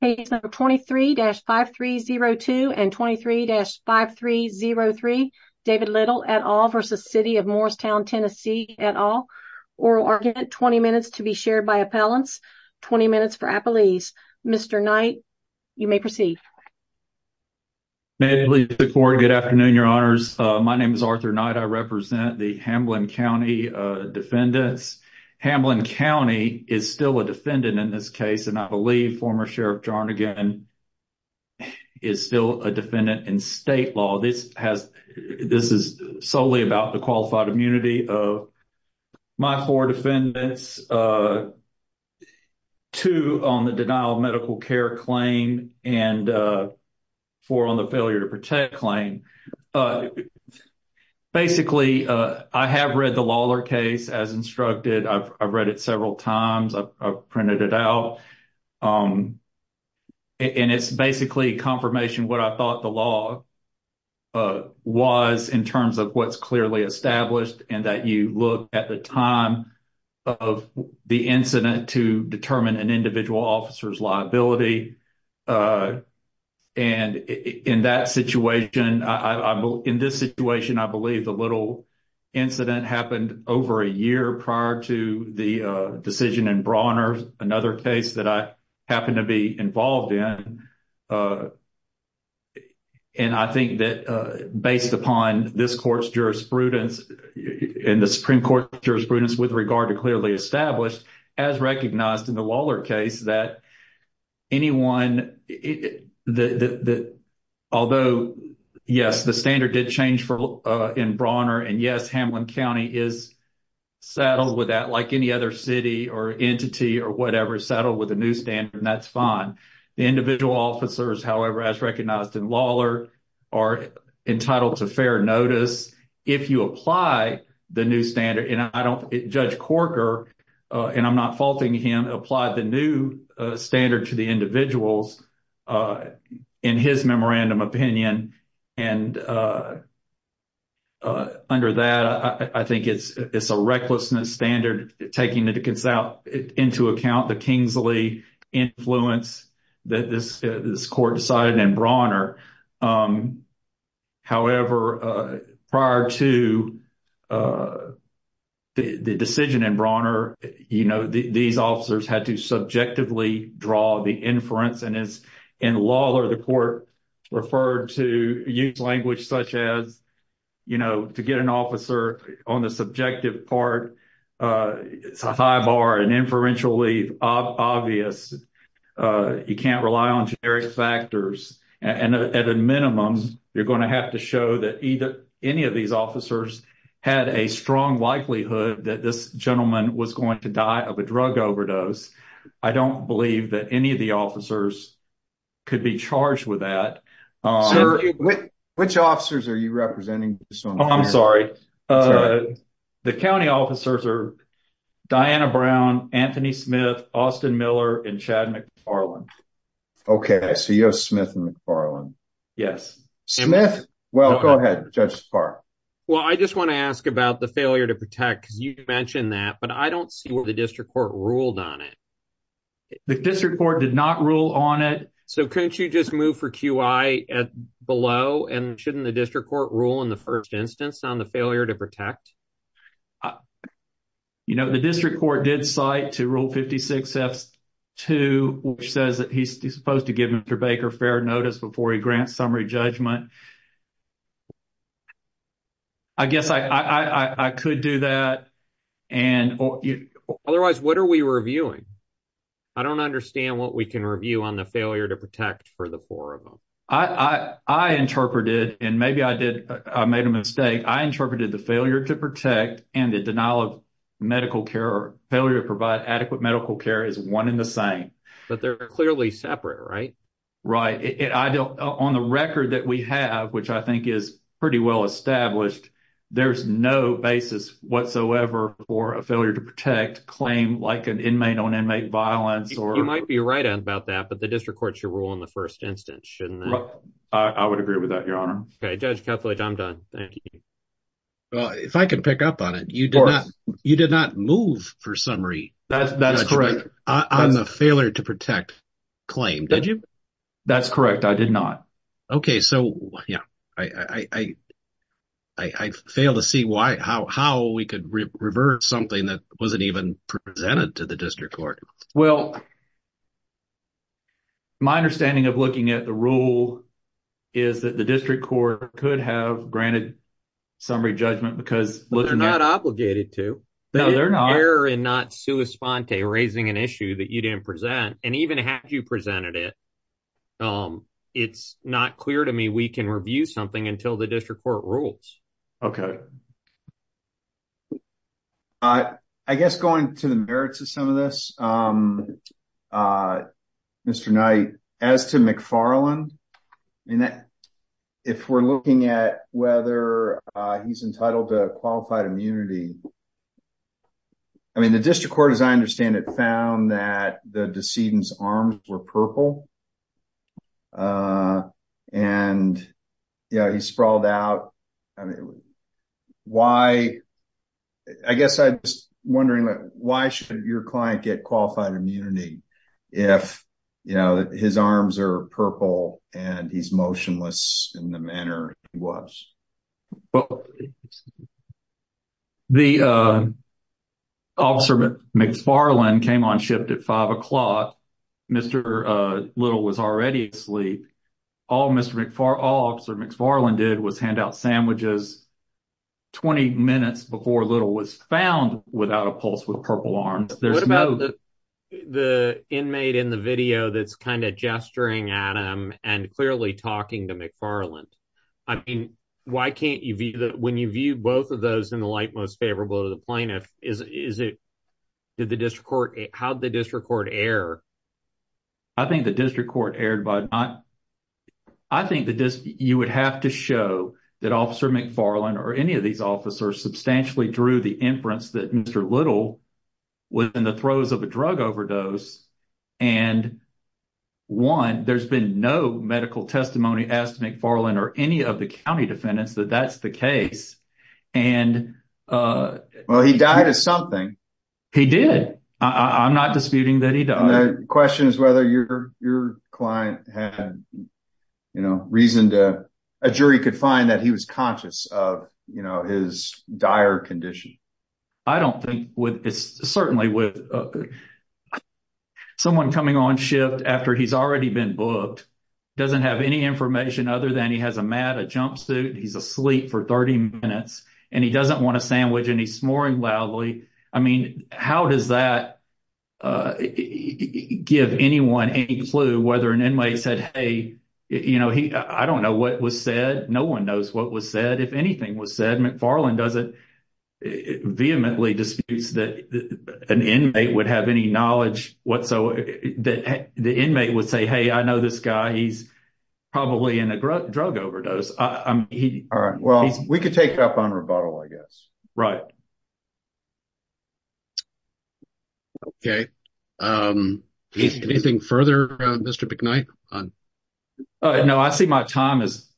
Page number 23-5302 and 23-5303 David Little et al. v. City of Morristown TN et al. Oral argument, 20 minutes to be shared by appellants. 20 minutes for appellees. Mr. Knight, you may proceed. May I please look forward? Good afternoon, your honors. My name is Arthur Knight. I represent the Hamblin County defendants. Hamblin County is still a defendant in this case, and I believe former Sheriff Jarnagan is still a defendant in state law. This has this is solely about the qualified immunity of my four defendants, two on the denial of medical care claim and four on the failure to protect claim. Basically, I have read the Lawler case as instructed. I've read it several times. I've printed it out. And it's basically confirmation what I thought the law was in terms of what's clearly established and that you look at the time of the incident to determine an individual officer's liability. And in that situation, in this situation, I believe the little incident happened over a year prior to the decision in Brawner, another case that I happen to be involved in. And I think that based upon this court's jurisprudence and the Supreme Court jurisprudence with regard to clearly established as recognized in the Lawler case that anyone that although, yes, the standard did change for in Brawner. And, yes, Hamblin County is settled with that, like any other city or entity or whatever settled with a new standard. And that's fine. Individual officers, however, as recognized in Lawler, are entitled to fair notice if you apply the new standard. Judge Corker, and I'm not faulting him, applied the new standard to the individuals in his memorandum opinion. And under that, I think it's a recklessness standard taking into account the Kingsley influence that this court decided in Brawner. However, prior to the decision in Brawner, you know, these officers had to subjectively draw the inference. And as in Lawler, the court referred to used language such as, you know, to get an officer on the subjective part. It's a high bar and inferentially obvious. You can't rely on generic factors. And at a minimum, you're going to have to show that either any of these officers had a strong likelihood that this gentleman was going to die of a drug overdose. I don't believe that any of the officers could be charged with that. Which officers are you representing? I'm sorry. The county officers are Diana Brown, Anthony Smith, Austin Miller, and Chad McFarlane. Okay, so you have Smith and McFarlane. Yes. Smith? Well, go ahead, Judge Spahr. Well, I just want to ask about the failure to protect, because you mentioned that, but I don't see where the district court ruled on it. The district court did not rule on it. So couldn't you just move for QI below, and shouldn't the district court rule in the first instance on the failure to protect? You know, the district court did cite to Rule 56-F-2, which says that he's supposed to give Mr. Baker fair notice before he grants summary judgment. I guess I could do that. Otherwise, what are we reviewing? I don't understand what we can review on the failure to protect for the four of them. I interpreted, and maybe I made a mistake, I interpreted the failure to protect and the denial of medical care or failure to provide adequate medical care as one and the same. But they're clearly separate, right? Right. On the record that we have, which I think is pretty well established, there's no basis whatsoever for a failure to protect claim like an inmate-on-inmate violence. You might be right about that, but the district court should rule in the first instance, shouldn't it? I would agree with that, Your Honor. Okay, Judge Kethledge, I'm done. Thank you. Well, if I could pick up on it, you did not move for summary judgment on the failure to protect claim, did you? That's correct. I did not. Okay, so I fail to see how we could revert something that wasn't even presented to the district court. Well, my understanding of looking at the rule is that the district court could have granted summary judgment because they're not obligated to. No, they're not. It's clear in not sua sponte, raising an issue that you didn't present, and even had you presented it, it's not clear to me we can review something until the district court rules. I guess going to the merits of some of this, Mr. Knight, as to McFarland, if we're looking at whether he's entitled to qualified immunity, I mean, the district court, as I understand it, found that the decedent's arms were purple, and he sprawled out. I guess I'm just wondering, why shouldn't your client get qualified immunity if his arms are purple and he's motionless in the manner he was? Well, the officer McFarland came on shift at 5 o'clock. Mr. Little was already asleep. All Mr. McFarland did was hand out sandwiches 20 minutes before Little was found without a pulse with purple arms. What about the inmate in the video that's kind of gesturing at him and clearly talking to McFarland? I mean, when you view both of those in the light most favorable to the plaintiff, how did the district court err? I think you would have to show that Officer McFarland or any of these officers substantially drew the inference that Mr. Little was in the throes of a drug overdose. And one, there's been no medical testimony as to McFarland or any of the county defendants that that's the case. Well, he died of something. He did. I'm not disputing that he died. The question is whether your client reasoned a jury could find that he was conscious of his dire condition. I don't think with this, certainly with someone coming on shift after he's already been booked, doesn't have any information other than he has a mat, a jumpsuit. He's asleep for 30 minutes and he doesn't want a sandwich and he's snoring loudly. I mean, how does that give anyone any clue whether an inmate said, hey, you know, I don't know what was said. No one knows what was said. If anything was said, McFarland doesn't vehemently disputes that an inmate would have any knowledge whatsoever that the inmate would say, hey, I know this guy. He's probably in a drug overdose. All right. Well, we could take up on rebuttal, I guess. Okay. Anything further, Mr. McKnight? No, I see my time is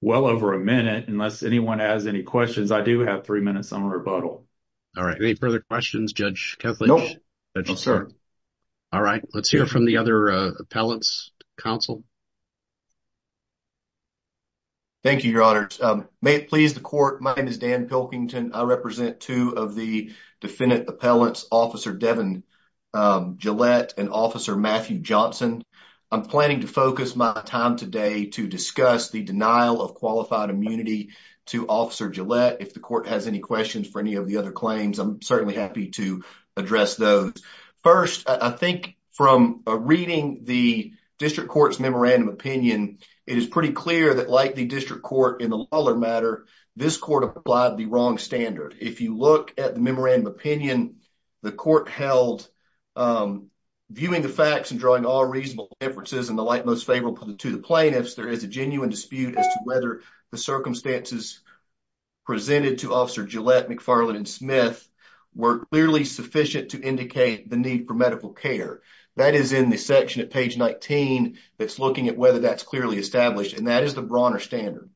well over a minute. Unless anyone has any questions, I do have three minutes on rebuttal. All right. Any further questions, Judge Kethledge? No, sir. All right. Let's hear from the other appellants, counsel. Thank you, Your Honor. May it please the court. My name is Dan Pilkington. I represent two of the defendant appellants, Officer Devin Gillette and Officer Matthew Johnson. I'm planning to focus my time today to discuss the denial of qualified immunity to Officer Gillette. If the court has any questions for any of the other claims, I'm certainly happy to address those. First, I think from reading the district court's memorandum opinion, it is pretty clear that like the district court in the Lawler matter, this court applied the wrong standard. If you look at the memorandum opinion, the court held, viewing the facts and drawing all reasonable inferences and the like most favorable to the plaintiffs, there is a genuine dispute as to whether the circumstances presented to Officer Gillette, McFarland, and Smith were clearly sufficient to indicate the need for medical care. That is in the section at page 19 that's looking at whether that's clearly established, and that is the Bronner standard.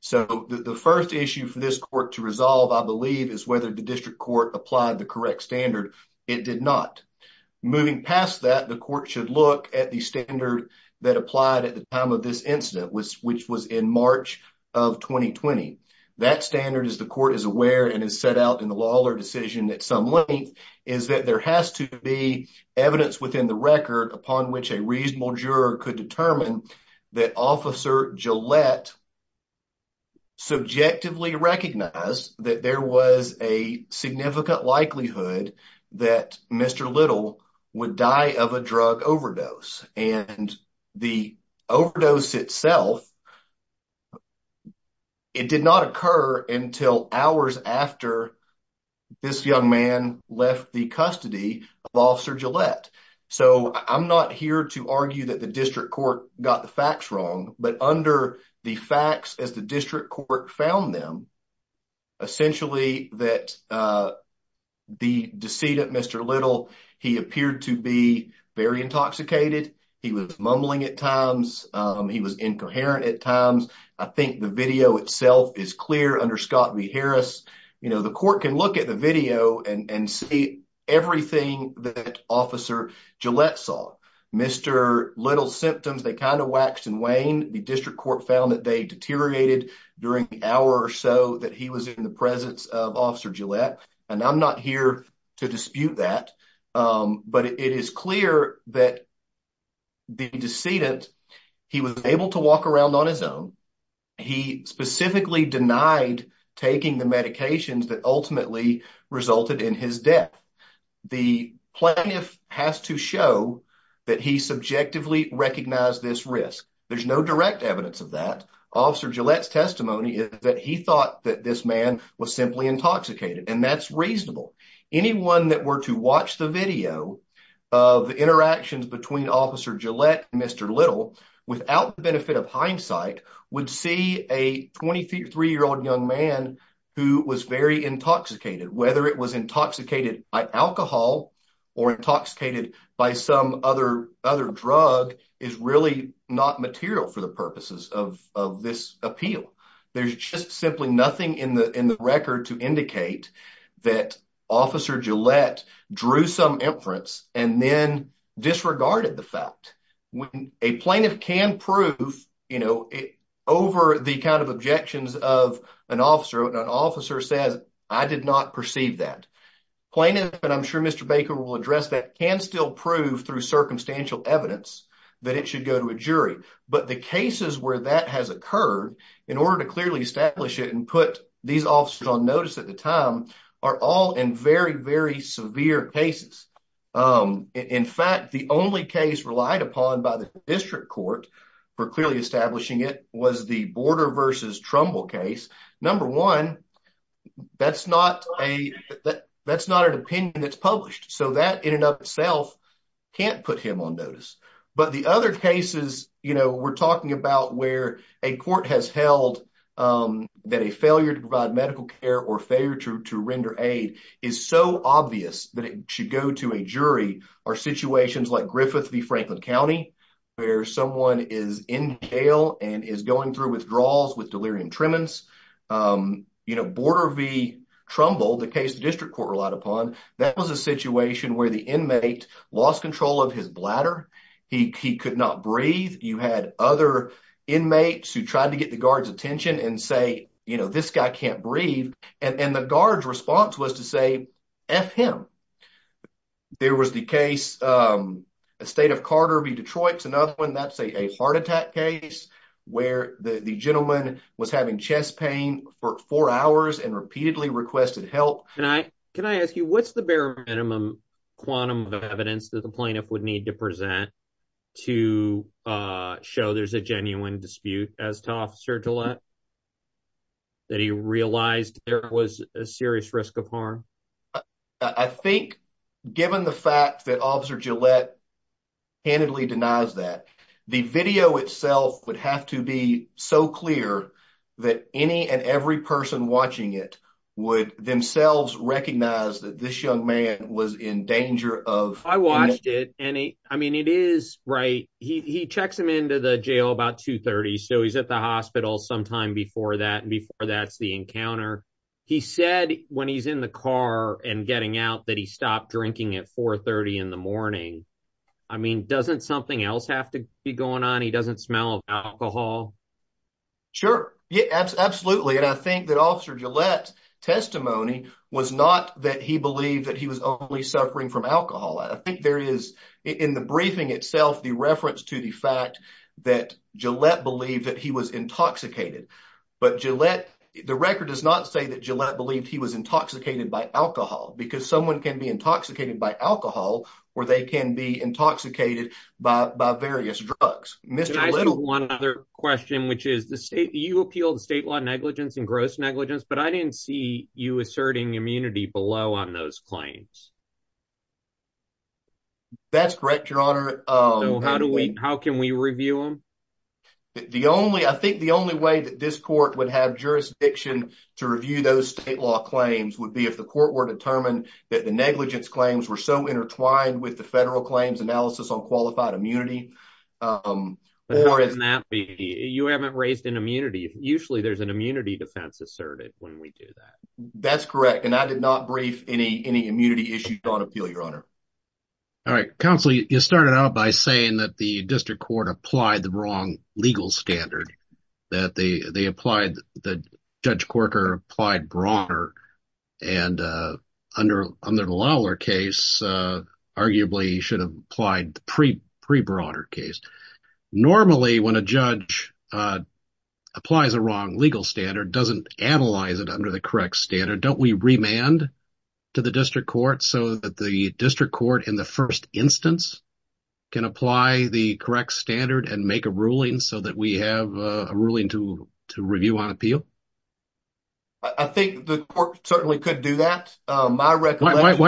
So the first issue for this court to resolve, I believe, is whether the district court applied the correct standard. It did not. Moving past that, the court should look at the standard that applied at the time of this incident, which was in March of 2020. That standard, as the court is aware and has set out in the Lawler decision at some length, is that there has to be evidence within the record upon which a reasonable juror could determine that Officer Gillette subjectively recognized that there was a significant likelihood that Mr. Little would die of a drug overdose. And the overdose itself, it did not occur until hours after this young man left the custody of Officer Gillette. So I'm not here to argue that the district court got the facts wrong, but under the facts as the district court found them, essentially that the deceit of Mr. Little, he appeared to be very intoxicated. He was mumbling at times. He was incoherent at times. I think the video itself is clear under Scott v. Harris. The court can look at the video and see everything that Officer Gillette saw. Mr. Little's symptoms, they kind of waxed and waned. The district court found that they deteriorated during the hour or so that he was in the presence of Officer Gillette. And I'm not here to dispute that, but it is clear that the decedent, he was able to walk around on his own. He specifically denied taking the medications that ultimately resulted in his death. The plaintiff has to show that he subjectively recognized this risk. There's no direct evidence of that. Officer Gillette's testimony is that he thought that this man was simply intoxicated, and that's reasonable. Anyone that were to watch the video of the interactions between Officer Gillette and Mr. Little, without the benefit of hindsight, would see a 23-year-old young man who was very intoxicated. Whether it was intoxicated by alcohol or intoxicated by some other drug is really not material for the purposes of this appeal. There's just simply nothing in the record to indicate that Officer Gillette drew some inference and then disregarded the fact. A plaintiff can prove over the kind of objections of an officer, and an officer says, I did not perceive that. Plaintiff, and I'm sure Mr. Baker will address that, can still prove through circumstantial evidence that it should go to a jury. But the cases where that has occurred, in order to clearly establish it and put these officers on notice at the time, are all in very, very severe cases. In fact, the only case relied upon by the district court for clearly establishing it was the Border v. Trumbull case. Number one, that's not an opinion that's published, so that in and of itself can't put him on notice. But the other cases we're talking about where a court has held that a failure to provide medical care or failure to render aid is so obvious that it should go to a jury, are situations like Griffith v. Franklin County, where someone is in jail and is going through withdrawals with delirium tremens. Border v. Trumbull, the case the district court relied upon, that was a situation where the inmate lost control of his bladder. He could not breathe. You had other inmates who tried to get the guard's attention and say, this guy can't breathe. And the guard's response was to say, F him. There was the case, the state of Carter v. Detroit, another one that's a heart attack case, where the gentleman was having chest pain for four hours and repeatedly requested help. Can I ask you, what's the bare minimum quantum of evidence that the plaintiff would need to present to show there's a genuine dispute as to Officer Gillette? That he realized there was a serious risk of harm? I think, given the fact that Officer Gillette handedly denies that, the video itself would have to be so clear that any and every person watching it would themselves recognize that this young man was in danger of... I watched it, and I mean, it is right. He checks him into the jail about 2.30, so he's at the hospital sometime before that, and before that's the encounter. He said when he's in the car and getting out that he stopped drinking at 4.30 in the morning. I mean, doesn't something else have to be going on? He doesn't smell of alcohol? Sure. Yeah, absolutely. And I think that Officer Gillette's testimony was not that he believed that he was only suffering from alcohol. I think there is, in the briefing itself, the reference to the fact that Gillette believed that he was intoxicated. But Gillette, the record does not say that Gillette believed he was intoxicated by alcohol. Because someone can be intoxicated by alcohol, or they can be intoxicated by various drugs. Can I ask you one other question, which is, you appealed state law negligence and gross negligence, but I didn't see you asserting immunity below on those claims. That's correct, Your Honor. How can we review them? I think the only way that this court would have jurisdiction to review those state law claims would be if the court were determined that the negligence claims were so intertwined with the federal claims analysis on qualified immunity. But how does that be? You haven't raised an immunity. Usually there's an immunity defense asserted when we do that. That's correct, and I did not brief any immunity issues on appeal, Your Honor. All right, Counsel, you started out by saying that the district court applied the wrong legal standard. That Judge Corker applied broader, and under the Lawler case, arguably he should have applied the pre-broader case. Normally, when a judge applies a wrong legal standard, doesn't analyze it under the correct standard. Don't we remand to the district court so that the district court, in the first instance, can apply the correct standard and make a ruling so that we have a ruling to review on appeal? I think the court certainly could do that. Why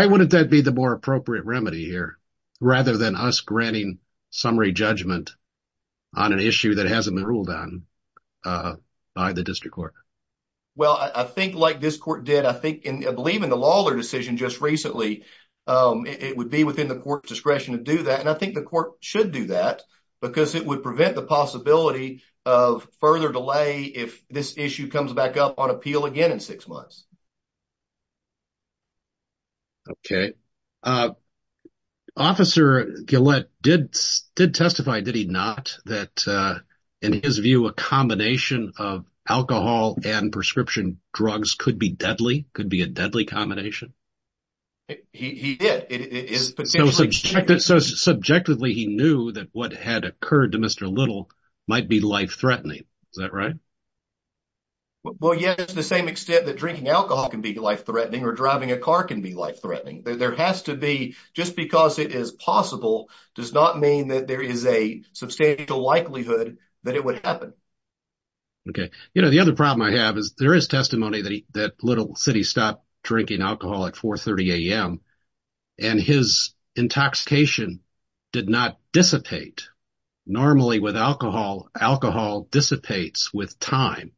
wouldn't that be the more appropriate remedy here, rather than us granting summary judgment on an issue that hasn't been ruled on by the district court? Well, I think like this court did, I believe in the Lawler decision just recently, it would be within the court's discretion to do that. And I think the court should do that because it would prevent the possibility of further delay if this issue comes back up on appeal again in six months. Okay. Officer Gillette did testify, did he not, that in his view, a combination of alcohol and prescription drugs could be deadly, could be a deadly combination? He did. So subjectively, he knew that what had occurred to Mr. Little might be life-threatening. Is that right? Well, yes, to the same extent that drinking alcohol can be life-threatening or driving a car can be life-threatening. There has to be, just because it is possible does not mean that there is a substantial likelihood that it would happen. Okay. You know, the other problem I have is there is testimony that Little said he stopped drinking alcohol at 4.30 a.m. And his intoxication did not dissipate. Normally with alcohol, alcohol dissipates with time.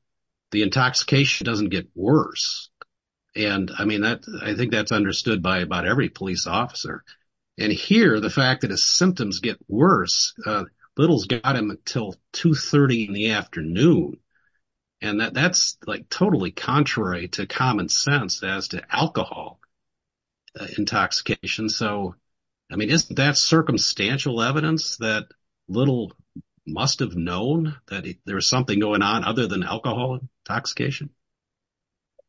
The intoxication doesn't get worse. And I mean, I think that's understood by about every police officer. And here, the fact that his symptoms get worse, Little's got him until 2.30 in the afternoon. And that's like totally contrary to common sense as to alcohol intoxication. So, I mean, isn't that circumstantial evidence that Little must have known that there was something going on other than alcohol intoxication?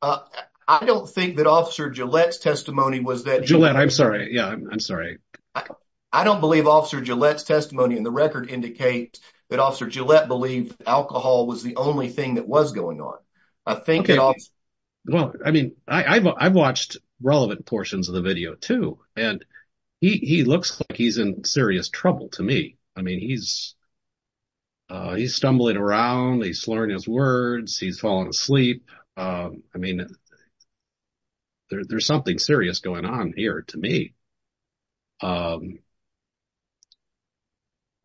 I don't think that Officer Gillette's testimony was that. Gillette, I'm sorry. Yeah, I'm sorry. I don't believe Officer Gillette's testimony in the record indicates that Officer Gillette believed alcohol was the only thing that was going on. I think it was. Well, I mean, I've watched relevant portions of the video, too. And he looks like he's in serious trouble to me. I mean, he's stumbling around. He's slurring his words. He's falling asleep. I mean, there's something serious going on here to me.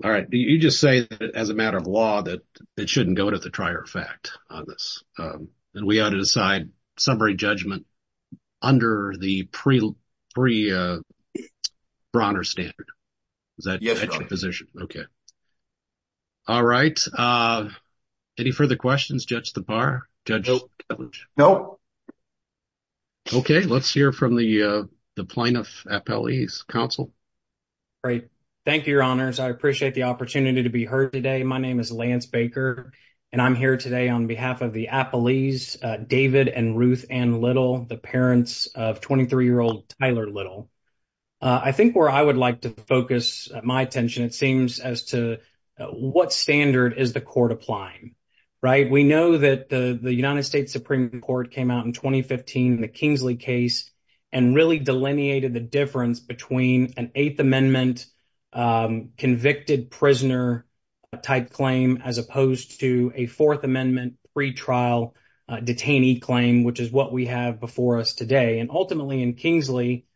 All right. You just say that as a matter of law, that it shouldn't go to the trier of fact on this. And we ought to decide summary judgment under the pre-Bronner standard. Is that your position? All right. Any further questions, Judge Thapar? No. OK. Let's hear from the plaintiff, Appellee's counsel. All right. Thank you, Your Honors. I appreciate the opportunity to be heard today. My name is Lance Baker, and I'm here today on behalf of the appellees, David and Ruth Ann Little, the parents of 23-year-old Tyler Little. I think where I would like to focus my attention, it seems, as to what standard is the court applying? Right. We know that the United States Supreme Court came out in 2015, the Kingsley case, and really delineated the difference between an Eighth Amendment convicted prisoner type claim as opposed to a Fourth Amendment pretrial detainee claim, which is what we have before us today. And ultimately, in Kingsley,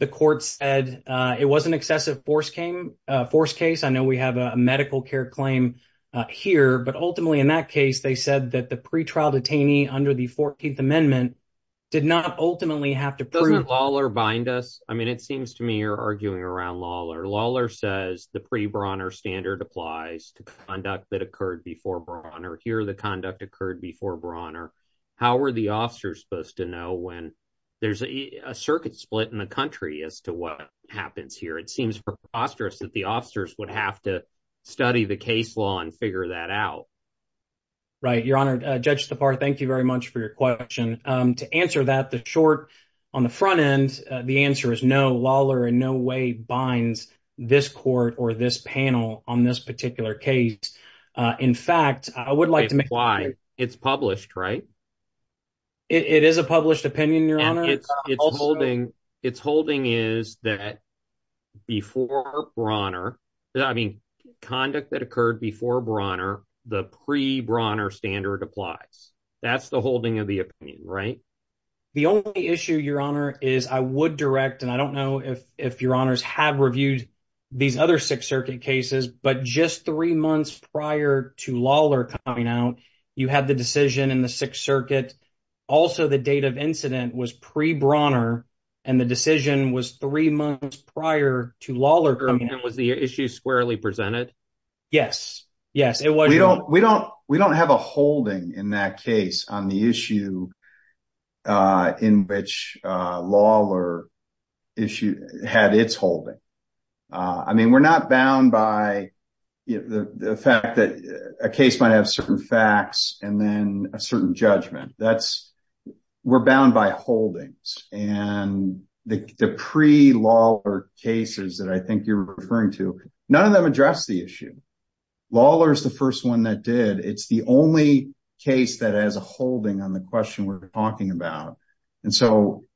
the court said it was an excessive force case. I know we have a medical care claim here. But ultimately, in that case, they said that the pretrial detainee under the 14th Amendment did not ultimately have to prove— Doesn't Lawler bind us? I mean, it seems to me you're arguing around Lawler. Lawler says the pre-Bronner standard applies to conduct that occurred before Bronner. Here, the conduct occurred before Bronner. How are the officers supposed to know when there's a circuit split in the country as to what happens here? It seems preposterous that the officers would have to study the case law and figure that out. Right. Your Honor, Judge Stepar, thank you very much for your question. To answer that, the short on the front end, the answer is no. Lawler in no way binds this court or this panel on this particular case. In fact, I would like to make— It is a published opinion, Your Honor. Its holding is that before Bronner—I mean, conduct that occurred before Bronner, the pre-Bronner standard applies. That's the holding of the opinion, right? The only issue, Your Honor, is I would direct, and I don't know if Your Honors have reviewed these other Sixth Circuit cases, but just three months prior to Lawler coming out, you had the decision in the Sixth Circuit. Also, the date of incident was pre-Bronner, and the decision was three months prior to Lawler coming out. Was the issue squarely presented? Yes. Yes, it was. We don't have a holding in that case on the issue in which Lawler had its holding. I mean, we're not bound by the fact that a case might have certain facts and then a certain judgment. We're bound by holdings, and the pre-Lawler cases that I think you're referring to, none of them address the issue. Lawler is the first one that did. It's the only case that has a holding on the question we're talking about.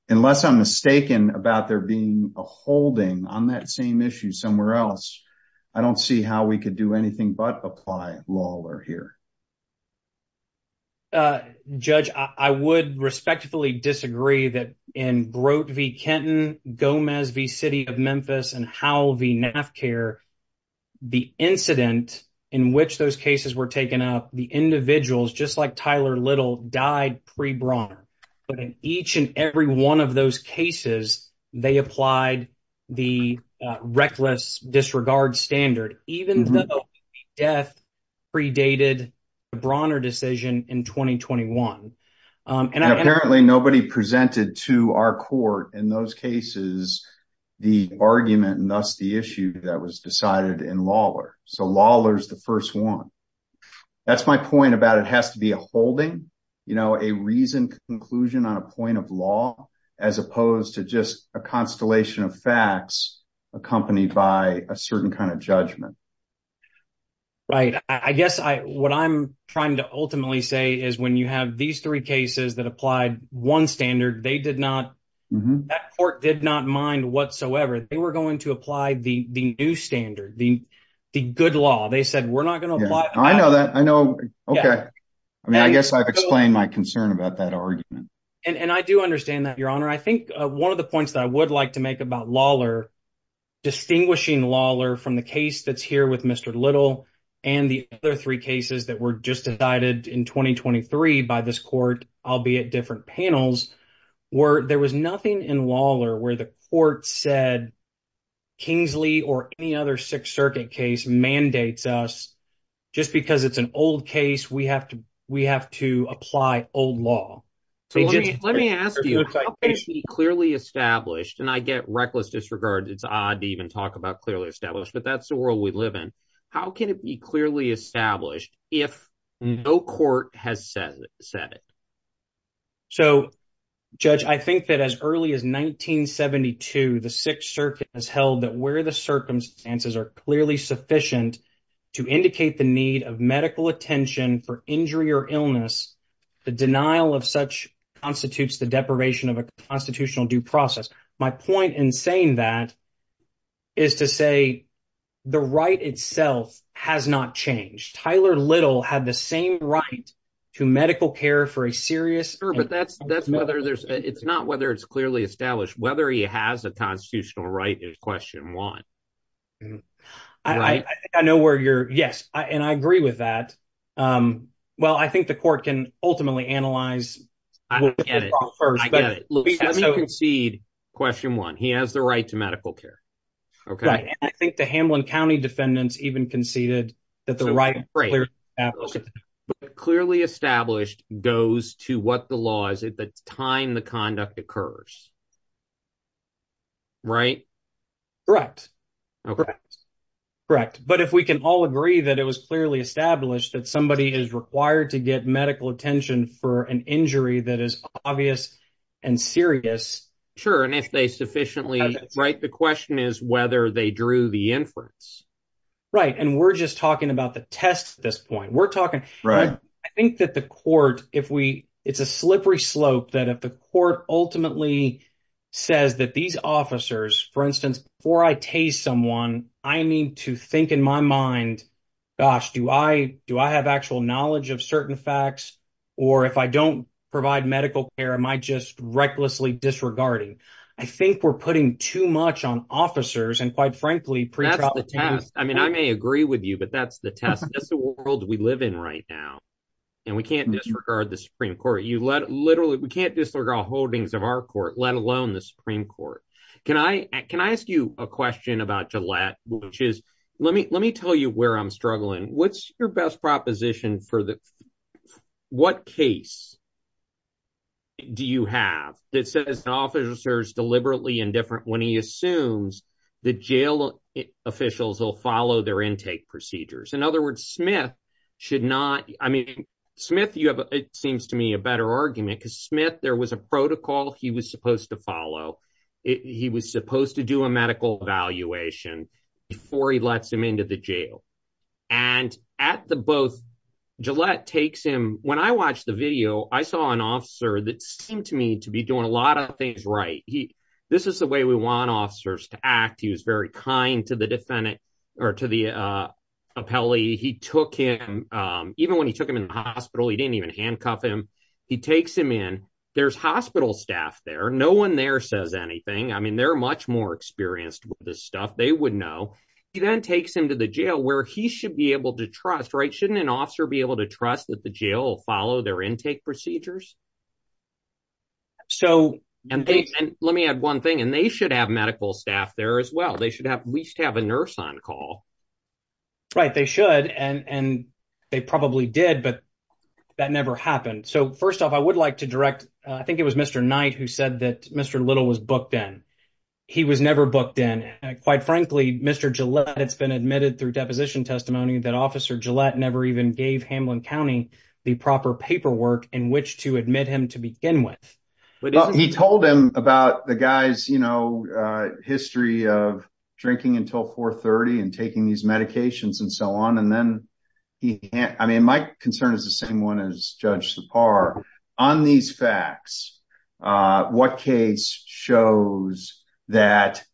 Unless I'm mistaken about there being a holding on that same issue somewhere else, I don't see how we could do anything but apply Lawler here. Judge, I would respectfully disagree that in Brote v. Kenton, Gomez v. City of Memphis, and Howell v. NAFCAIR, the incident in which those cases were taken up, the individuals, just like Tyler Little, died pre-Bronner. But in each and every one of those cases, they applied the reckless disregard standard, even though the death predated the Bronner decision in 2021. Apparently, nobody presented to our court in those cases the argument and thus the issue that was decided in Lawler. So Lawler is the first one. That's my point about it has to be a holding. A reasoned conclusion on a point of law as opposed to just a constellation of facts accompanied by a certain kind of judgment. Right. I guess what I'm trying to ultimately say is when you have these three cases that applied one standard, that court did not mind whatsoever. They were going to apply the new standard, the good law. They said, we're not going to apply it. I know that. I know. Okay. I mean, I guess I've explained my concern about that argument. And I do understand that, Your Honor. I think one of the points that I would like to make about Lawler, distinguishing Lawler from the case that's here with Mr. Little, and the other three cases that were just decided in 2023 by this court, albeit different panels, there was nothing in Lawler where the court said Kingsley or any other Sixth Circuit case mandates us, just because it's an old case, we have to apply old law. Let me ask you, how can it be clearly established? And I get reckless disregard. It's odd to even talk about clearly established. But that's the world we live in. How can it be clearly established if no court has said it? So, Judge, I think that as early as 1972, the Sixth Circuit has held that where the circumstances are clearly sufficient to indicate the need of medical attention for injury or illness, the denial of such constitutes the deprivation of a constitutional due process. My point in saying that is to say the right itself has not changed. Tyler Little had the same right to medical care for a serious. But that's that's whether there's it's not whether it's clearly established, whether he has a constitutional right is question one. I know where you're. Yes. And I agree with that. Well, I think the court can ultimately analyze. I get it. I get it. Let me concede. Question one, he has the right to medical care. OK, I think the Hamlin County defendants even conceded that the right. But clearly established goes to what the law is at the time the conduct occurs. Right, correct, correct, correct. But if we can all agree that it was clearly established that somebody is required to get medical attention for an injury that is obvious and serious. Sure. And if they sufficiently right, the question is whether they drew the inference. Right. And we're just talking about the test at this point. We're talking. Right. I think that the court, if we it's a slippery slope, that if the court ultimately says that these officers, for instance, for I taste someone, I need to think in my mind, gosh, do I do I have actual knowledge of certain facts? Or if I don't provide medical care, am I just recklessly disregarding? I think we're putting too much on officers and quite frankly. That's the test. I mean, I may agree with you, but that's the test. That's the world we live in right now. And we can't disregard the Supreme Court. You literally we can't disregard holdings of our court, let alone the Supreme Court. Can I can I ask you a question about Gillette, which is let me let me tell you where I'm struggling. What's your best proposition for that? What case. Do you have that says the officers deliberately indifferent when he assumes the jail officials will follow their intake procedures? In other words, Smith should not. I mean, Smith, you have. It seems to me a better argument because Smith, there was a protocol he was supposed to follow. He was supposed to do a medical evaluation before he lets him into the jail. And at the both Gillette takes him. When I watched the video, I saw an officer that seemed to me to be doing a lot of things right. This is the way we want officers to act. He was very kind to the defendant or to the appellee. He took him even when he took him in the hospital. He didn't even handcuff him. He takes him in. There's hospital staff there. No one there says anything. I mean, they're much more experienced with this stuff. They would know. He then takes him to the jail where he should be able to trust. Right. Shouldn't an officer be able to trust that the jail follow their intake procedures? So and let me add one thing, and they should have medical staff there as well. They should have at least have a nurse on call. Right. They should. And they probably did. But that never happened. So first off, I would like to direct. I think it was Mr. Knight who said that Mr. Little was booked in. He was never booked in. And quite frankly, Mr. Gillette, it's been admitted through deposition testimony that Officer Gillette never even gave Hamlin County the proper paperwork in which to admit him to begin with. He told him about the guy's, you know, history of drinking until 430 and taking these medications and so on. I mean, my concern is the same one as Judge Sipar on these facts. What case shows that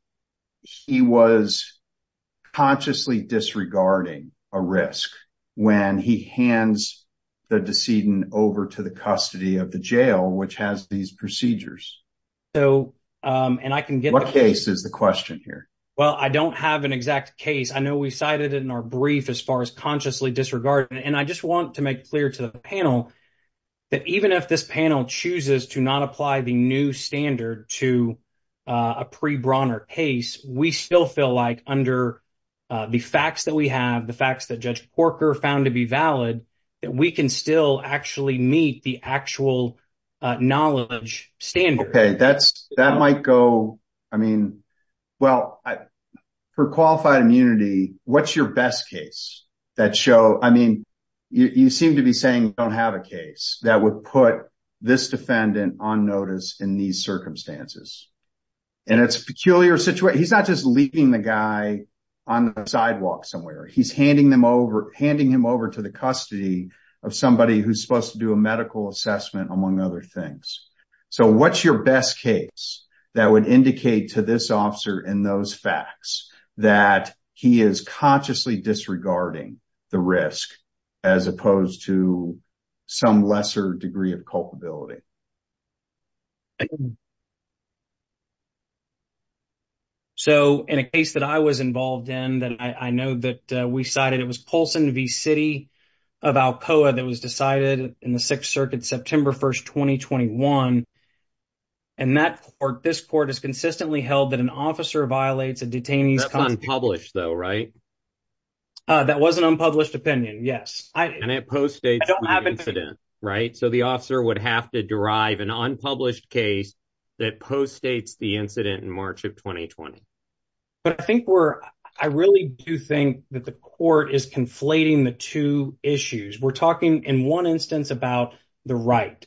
he was consciously disregarding a risk when he hands the decedent over to the custody of the jail, which has these procedures? So and I can get what case is the question here? Well, I don't have an exact case. I know we cited it in our brief as far as consciously disregard. And I just want to make clear to the panel that even if this panel chooses to not apply the new standard to a pre Bronner case, we still feel like under the facts that we have, the facts that Judge Porker found to be valid, that we can still actually meet the actual knowledge standard. OK, that's that might go. I mean, well, for qualified immunity, what's your best case that show? I mean, you seem to be saying you don't have a case that would put this defendant on notice in these circumstances. And it's a peculiar situation. He's not just leaving the guy on the sidewalk somewhere. He's handing them over, handing him over to the custody of somebody who's supposed to do a medical assessment, among other things. So what's your best case that would indicate to this officer in those facts that he is consciously disregarding the risk as opposed to some lesser degree of culpability? So in a case that I was involved in that I know that we cited, it was Paulson v. City of Alcoa that was decided in the Sixth Circuit, September 1st, 2021. And that this court is consistently held that an officer violates a detainee's unpublished, though, right? That was an unpublished opinion. Yes. And it postdates the incident. Right. So the officer would have to derive an unpublished case that postdates the incident in March of 2020. But I think we're I really do think that the court is conflating the two issues. We're talking in one instance about the right.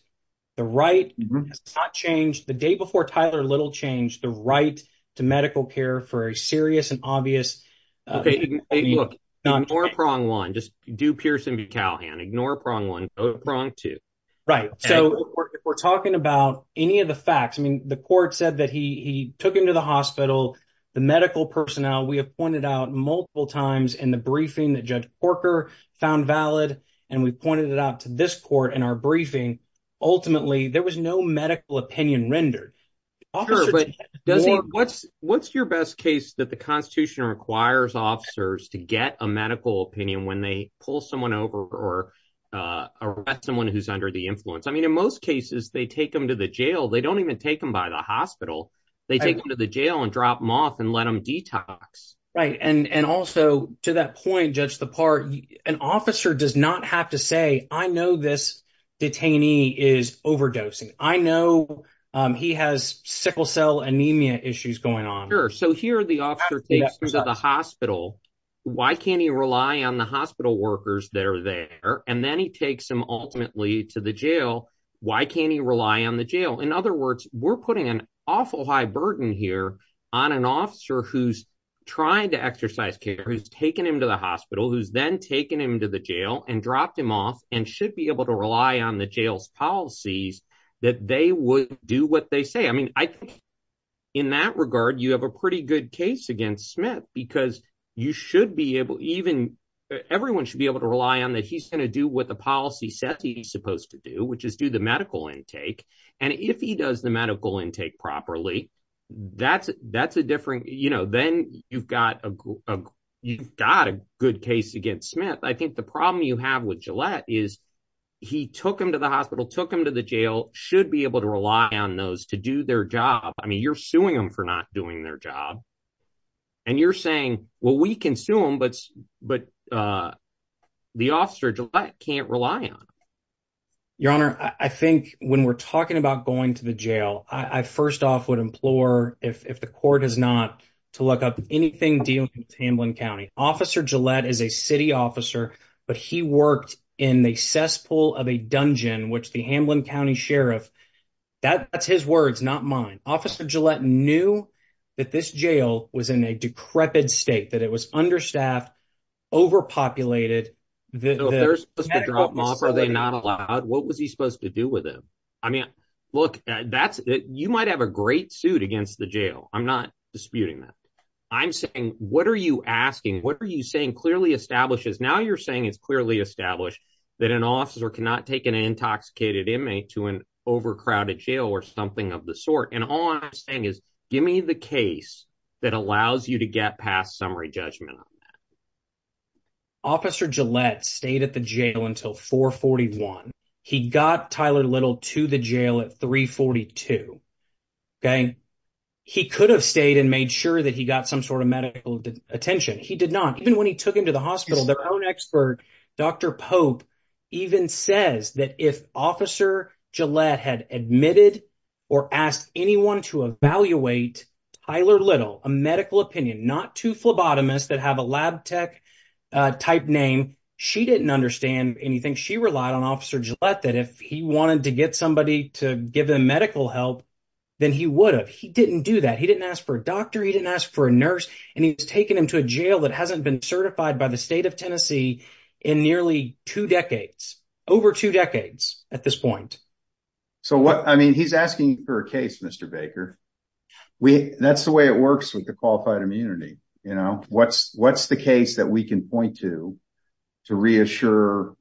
The right has not changed. The day before Tyler Little changed the right to medical care for a serious and obvious. Look, ignore prong one, just do Pearson v. Callahan, ignore prong one, ignore prong two. Right. So if we're talking about any of the facts, I mean, the court said that he took him to the hospital. The medical personnel we have pointed out multiple times in the briefing that Judge Corker found valid. And we pointed it out to this court in our briefing. Ultimately, there was no medical opinion rendered. But what's what's your best case that the Constitution requires officers to get a medical opinion when they pull someone over or someone who's under the influence? I mean, in most cases, they take them to the jail. They don't even take them by the hospital. They take them to the jail and drop them off and let them detox. Right. And also to that point, Judge, the part an officer does not have to say, I know this detainee is overdosing. I know he has sickle cell anemia issues going on. Sure. So here are the officers at the hospital. Why can't you rely on the hospital workers? They're there. And then he takes him ultimately to the jail. Why can't you rely on the jail? In other words, we're putting an awful high burden here on an officer who's trying to exercise care, who's taken him to the hospital, who's then taken him to the jail and dropped him off and should be able to rely on the jail's policies that they would do what they say. I mean, I think in that regard, you have a pretty good case against Smith, because you should be able even everyone should be able to rely on that. He's going to do what the policy says he's supposed to do, which is do the medical intake. And if he does the medical intake properly, that's that's a different. You know, then you've got a you've got a good case against Smith. I think the problem you have with Gillette is he took him to the hospital, took him to the jail, should be able to rely on those to do their job. I mean, you're suing him for not doing their job and you're saying, well, we can sue him. But but the officer Gillette can't rely on your honor. I think when we're talking about going to the jail, I first off would implore if the court is not to look up anything dealing with Hamblin County. Officer Gillette is a city officer, but he worked in the cesspool of a dungeon, which the Hamblin County sheriff that that's his words, not mine. Officer Gillette knew that this jail was in a decrepit state, that it was understaffed, overpopulated. There's a lot. Are they not allowed? What was he supposed to do with him? I mean, look, that's you might have a great suit against the jail. I'm not disputing that. I'm saying what are you asking? What are you saying? Clearly establishes. Now you're saying it's clearly established that an officer cannot take an intoxicated inmate to an overcrowded jail or something of the sort. And all I'm saying is give me the case that allows you to get past summary judgment. Officer Gillette stayed at the jail until four forty one. He got Tyler Little to the jail at three forty two. OK, he could have stayed and made sure that he got some sort of medical attention. He did not. Even when he took him to the hospital, their own expert, Dr. Pope, even says that if Officer Gillette had admitted or asked anyone to evaluate Tyler Little, a medical opinion, not to phlebotomist that have a lab tech type name, she didn't understand anything. She relied on Officer Gillette that if he wanted to get somebody to give him medical help, then he would have. But he didn't do that. He didn't ask for a doctor. He didn't ask for a nurse. And he was taken into a jail that hasn't been certified by the state of Tennessee in nearly two decades, over two decades at this point. So what I mean, he's asking for a case, Mr. Baker. We that's the way it works with the qualified immunity. You know, what's what's the case that we can point to to reassure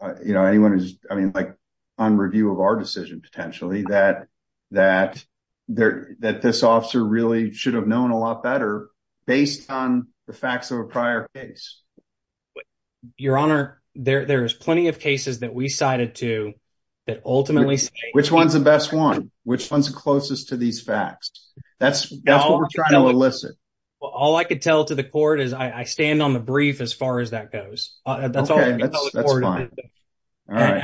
anyone? I mean, like on review of our decision, potentially that that there that this officer really should have known a lot better based on the facts of a prior case. Your Honor, there's plenty of cases that we cited to that ultimately, which one's the best one? Which one's closest to these facts? That's that's what we're trying to elicit. All I could tell to the court is I stand on the brief as far as that goes. That's fine. All right.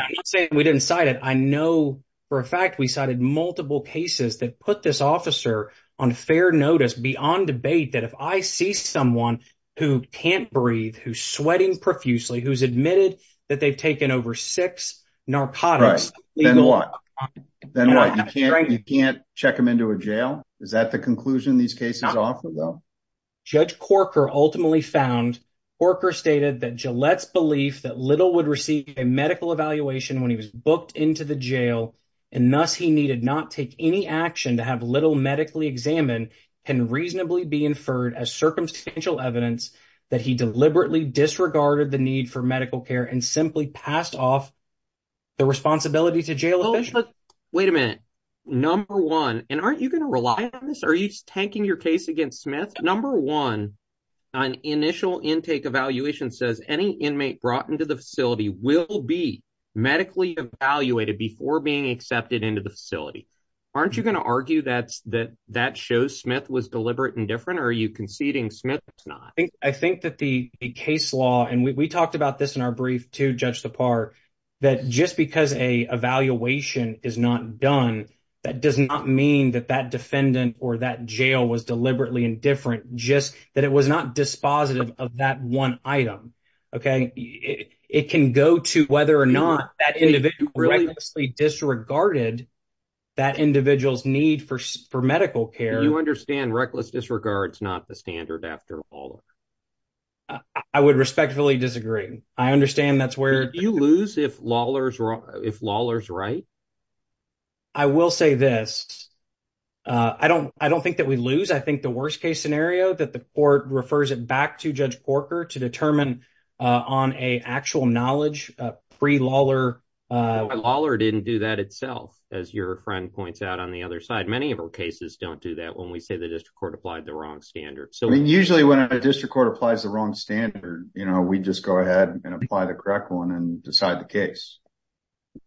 We didn't cite it. I know for a fact we cited multiple cases that put this officer on fair notice beyond debate that if I see someone who can't breathe, who's sweating profusely, who's admitted that they've taken over six narcotics. Then what? Then what? You can't you can't check him into a jail. Is that the conclusion these cases offer, though? Judge Corker ultimately found Corker stated that Gillette's belief that little would receive a medical evaluation when he was booked into the jail. And thus he needed not take any action to have little medically examined and reasonably be inferred as circumstantial evidence that he deliberately disregarded the need for medical care and simply passed off the responsibility to jail. Wait a minute. Number one. And aren't you going to rely on this? Are you tanking your case against Smith? Number one, an initial intake evaluation says any inmate brought into the facility will be medically evaluated before being accepted into the facility. Aren't you going to argue that that that shows Smith was deliberate and different? Are you conceding Smith? I think that the case law and we talked about this in our brief to judge the part that just because a evaluation is not done, that does not mean that that defendant or that jail was deliberately indifferent, just that it was not dispositive of that one item. OK, it can go to whether or not that individual really disregarded that individual's need for medical care. You understand reckless disregard is not the standard after all. I would respectfully disagree. I understand that's where you lose if Lawler's if Lawler's right. I will say this. I don't I don't think that we lose. I think the worst case scenario that the court refers it back to Judge Corker to determine on a actual knowledge pre Lawler. Lawler didn't do that itself. As your friend points out on the other side, many of our cases don't do that when we say the district court applied the wrong standard. So usually when a district court applies the wrong standard, we just go ahead and apply the correct one and decide the case.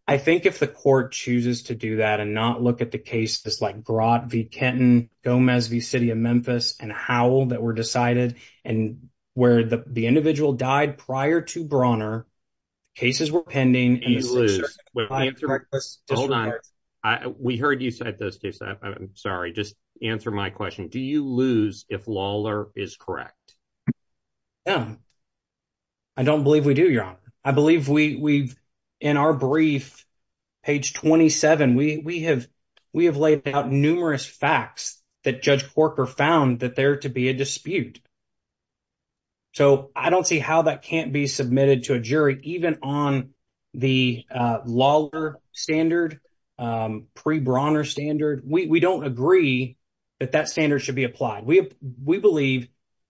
I think if the court chooses to do that and not look at the case, this like brought the Kenton Gomez, the city of Memphis and how that were decided and where the individual died prior to Bronner cases were pending. Hold on. We heard you said this. I'm sorry. Just answer my question. Do you lose if Lawler is correct? I don't believe we do your honor. I believe we've in our brief page 27. We have we have laid out numerous facts that Judge Corker found that there to be a dispute. So I don't see how that can't be submitted to a jury even on the Lawler standard pre Bronner standard. We don't agree that that standard should be applied. We we believe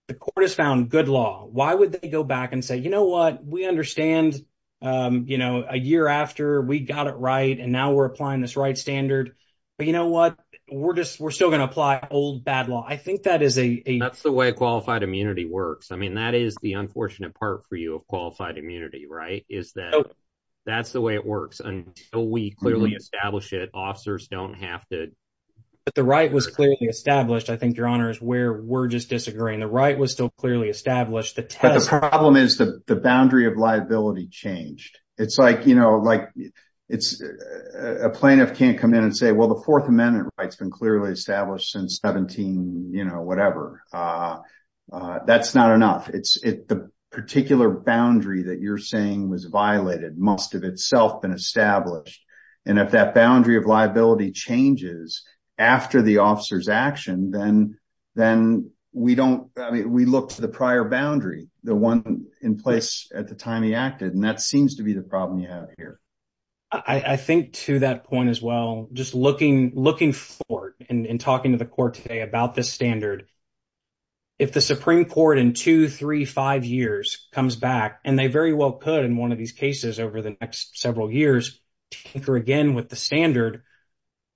the court has found good law. Why would they go back and say, you know what? We understand, you know, a year after we got it right. And now we're applying this right standard. But you know what? We're just we're still going to apply old bad law. I think that is a that's the way qualified immunity works. I mean, that is the unfortunate part for you of qualified immunity, right? Is that that's the way it works until we clearly establish it. Officers don't have to. But the right was clearly established. I think your honor is where we're just disagreeing. The right was still clearly established. The problem is the boundary of liability changed. It's like, you know, like it's a plaintiff can't come in and say, well, the Fourth Amendment rights been clearly established since 17. You know, whatever. That's not enough. It's the particular boundary that you're saying was violated must have itself been established. And if that boundary of liability changes after the officer's action, then then we don't. We look to the prior boundary, the one in place at the time he acted. And that seems to be the problem you have here. I think to that point as well, just looking looking forward and talking to the court today about this standard. If the Supreme Court in two, three, five years comes back and they very well could in one of these cases over the next several years, tinker again with the standard.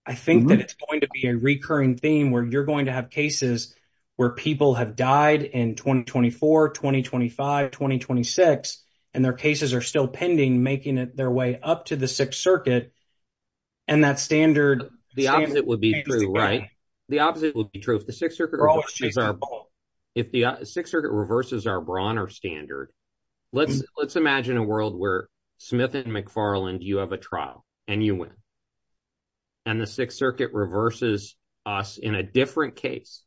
I think that it's going to be a recurring theme where you're going to have cases where people have died in twenty, twenty four, twenty, twenty five, twenty, twenty six. And their cases are still pending, making it their way up to the Sixth Circuit. And that standard, the opposite would be true, right? The opposite would be true. If the Sixth Circuit reverses our Bronner standard, let's let's imagine a world where Smith and McFarland, you have a trial and you win. And the Sixth Circuit reverses us in a different case,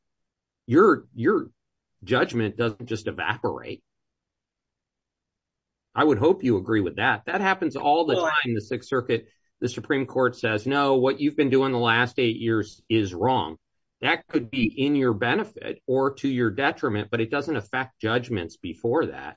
your your judgment doesn't just evaporate. I would hope you agree with that. That happens all the time in the Sixth Circuit. The Supreme Court says, no, what you've been doing the last eight years is wrong. That could be in your benefit or to your detriment, but it doesn't affect judgments before that.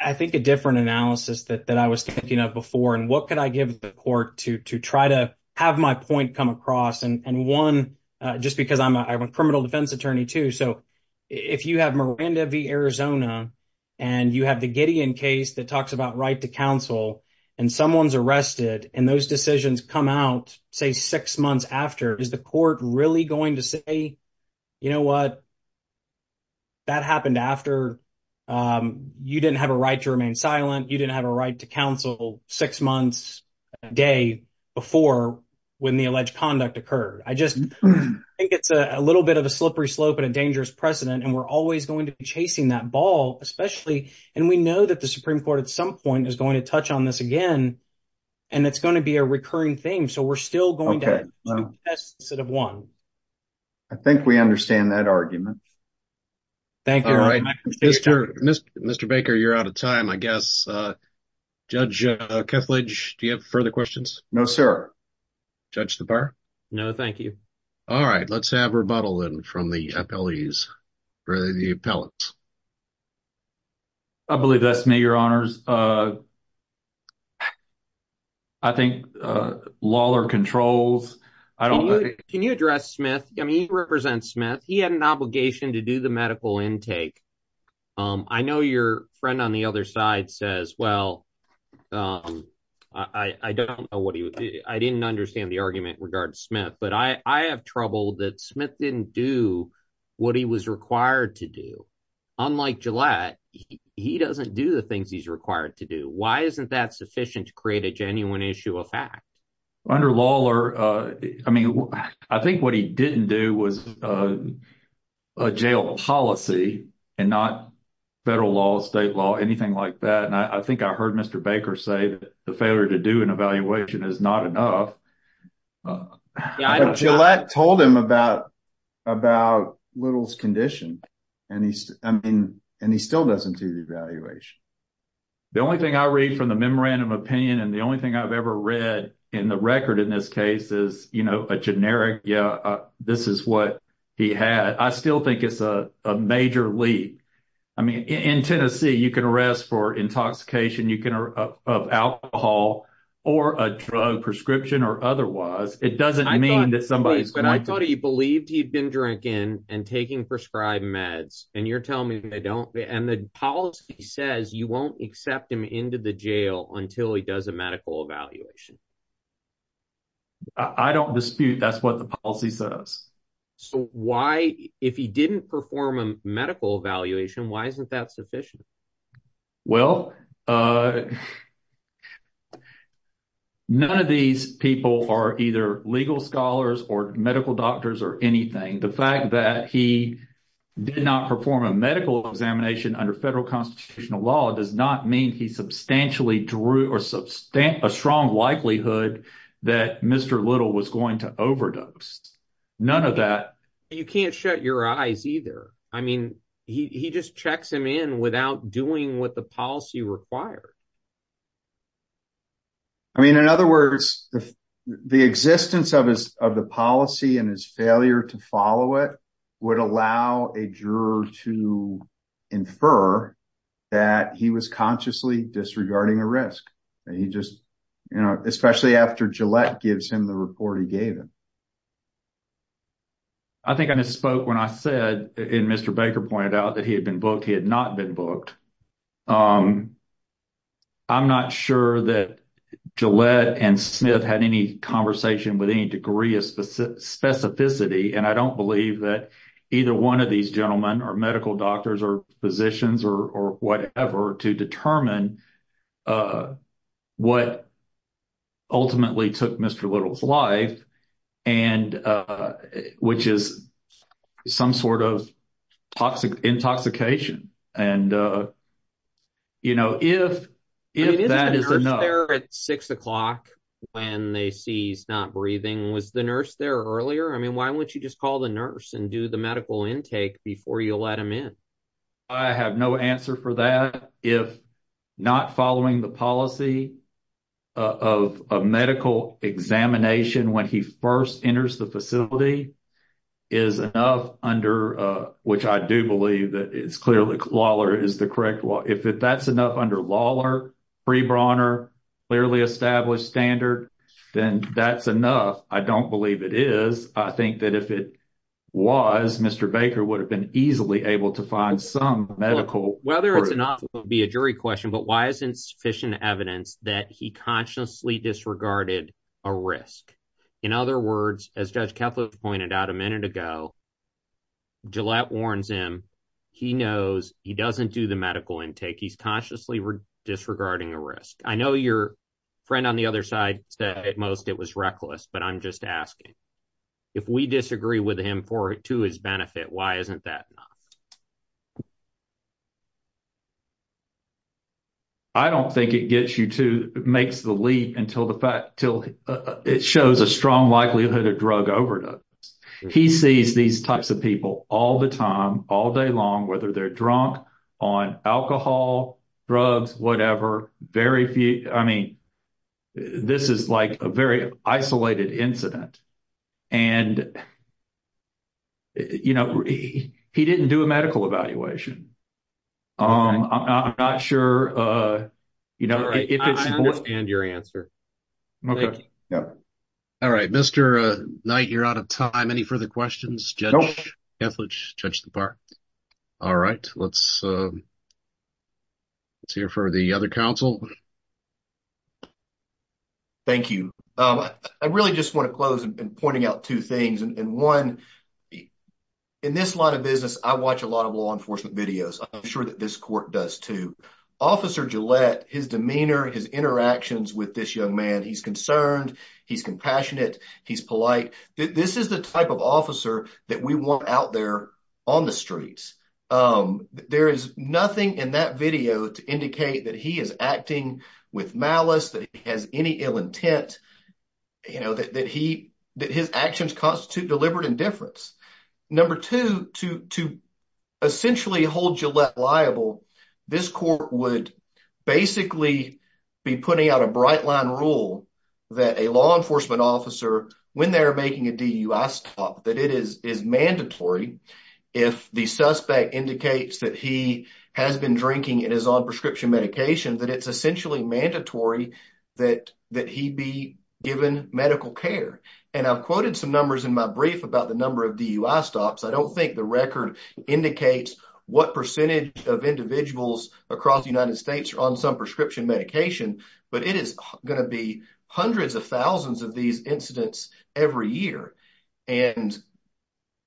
I think a different analysis that I was thinking of before and what could I give the court to to try to have my point come across and one just because I'm a criminal defense attorney, too. So if you have Miranda v. Arizona and you have the Gideon case that talks about right to counsel and someone's arrested and those decisions come out, say, six months after, is the court really going to say, you know what? That happened after you didn't have a right to remain silent, you didn't have a right to counsel six months a day before when the alleged conduct occurred. I just think it's a little bit of a slippery slope and a dangerous precedent. And we're always going to be chasing that ball, especially. And we know that the Supreme Court at some point is going to touch on this again and it's going to be a recurring theme. So we're still going to have one. I think we understand that argument. Thank you. All right. Mr. Mr. Mr. Baker, you're out of time, I guess. Judge Kethledge, do you have further questions? No, sir. Judge, the bar? No, thank you. All right. Let's have rebuttal from the appellees or the appellants. I believe that's me, your honors. I think law or controls. Can you address Smith? I mean, he represents Smith. He had an obligation to do the medical intake. I know your friend on the other side says, well, I don't know what he would do. I didn't understand the argument regarding Smith, but I have trouble that Smith didn't do what he was required to do. Unlike Gillette, he doesn't do the things he's required to do. Why isn't that sufficient to create a genuine issue of fact? Under Lawler, I mean, I think what he didn't do was a jail policy and not federal law, state law, anything like that. And I think I heard Mr. Baker say that the failure to do an evaluation is not enough. Gillette told him about about Little's condition. And I mean, and he still doesn't do the evaluation. The only thing I read from the memorandum of opinion and the only thing I've ever read in the record in this case is, you know, a generic. Yeah, this is what he had. I still think it's a major leap. I mean, in Tennessee, you can arrest for intoxication. You can have alcohol or a drug prescription or otherwise. It doesn't mean that somebody's going to I thought he believed he'd been drinking and taking prescribed meds. And you're telling me they don't. And the policy says you won't accept him into the jail until he does a medical evaluation. I don't dispute that's what the policy says. So why if he didn't perform a medical evaluation, why isn't that sufficient? Well, none of these people are either legal scholars or medical doctors or anything. The fact that he did not perform a medical examination under federal constitutional law does not mean he substantially drew or substantiate a strong likelihood that Mr. Little was going to overdose. None of that. You can't shut your eyes either. I mean, he just checks him in without doing what the policy required. I mean, in other words, the existence of his of the policy and his failure to follow it would allow a juror to infer that he was consciously disregarding a risk. You know, especially after Gillette gives him the report he gave him. I think I spoke when I said in Mr. Baker pointed out that he had been booked. He had not been booked. I'm not sure that Gillette and Smith had any conversation with any degree of specificity. And I don't believe that either one of these gentlemen are medical doctors or physicians or whatever to determine what ultimately took Mr. Little's life and which is some sort of toxic intoxication. And, you know, if if that is there at six o'clock when they see he's not breathing, was the nurse there earlier? I mean, why don't you just call the nurse and do the medical intake before you let him in? I have no answer for that. If not following the policy of a medical examination when he first enters the facility is enough under which I do believe that it's clearly Lawler is the correct law. If that's enough under Lawler, Brawner clearly established standard, then that's enough. I don't believe it is. I think that if it was, Mr. Baker would have been easily able to find some medical. Whether it's enough would be a jury question, but why isn't sufficient evidence that he consciously disregarded a risk? In other words, as Judge Kefla pointed out a minute ago. Gillette warns him he knows he doesn't do the medical intake. He's consciously disregarding a risk. I know your friend on the other side said most it was reckless, but I'm just asking if we disagree with him for it to his benefit. Why isn't that? I don't think it gets you to makes the lead until the fact till it shows a strong likelihood of drug overdose. He sees these types of people all the time all day long, whether they're drunk on alcohol, drugs, whatever. Very few. I mean, this is like a very isolated incident. And, you know, he didn't do a medical evaluation. I'm not sure, you know, if it's and your answer. All right, Mr. Knight, you're out of time. Any further questions? Judge, judge the part. All right. Let's let's hear for the other council. Thank you. I really just want to close and pointing out two things and one in this line of business. I watch a lot of law enforcement videos. I'm sure that this court does to Officer Gillette, his demeanor, his interactions with this young man. He's concerned. He's compassionate. He's polite. This is the type of officer that we want out there on the streets. There is nothing in that video to indicate that he is acting with malice, that he has any ill intent, you know, that he that his actions constitute deliberate indifference. Number two, to to essentially hold Gillette liable, this court would basically be putting out a bright line rule that a law enforcement officer, when they're making a DUI stop, that it is is mandatory if the suspect indicates that he has been drinking and is on prescription medication, that it's essentially mandatory that that he be given medical care. And I've quoted some numbers in my brief about the number of DUI stops. I don't think the record indicates what percentage of individuals across the United States are on some prescription medication, but it is going to be hundreds of thousands of these incidents every year. And,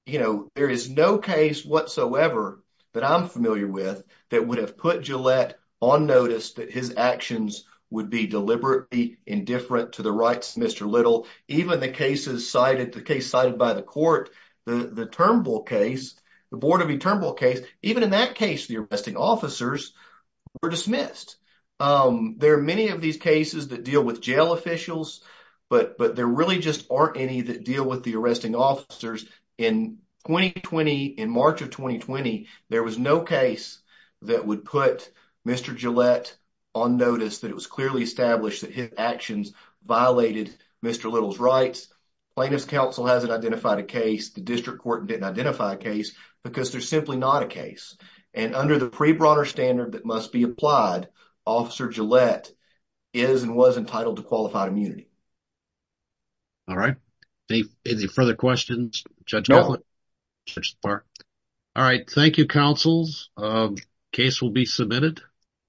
you know, there is no case whatsoever that I'm familiar with that would have put Gillette on notice that his actions would be deliberately indifferent to the rights of Mr. Little. Even the cases cited, the case cited by the court, the Turnbull case, the Board of the Turnbull case, even in that case, the arresting officers were dismissed. There are many of these cases that deal with jail officials, but but there really just aren't any that deal with the arresting officers. In 2020, in March of 2020, there was no case that would put Mr. Gillette on notice that it was clearly established that his actions violated Mr. Little's rights. Plaintiff's counsel hasn't identified a case. The district court didn't identify a case because they're simply not a case. And under the pre-broader standard that must be applied, Officer Gillette is and was entitled to qualified immunity. All right. Any further questions, Judge Gatlin? All right. Thank you, counsels. Case will be submitted.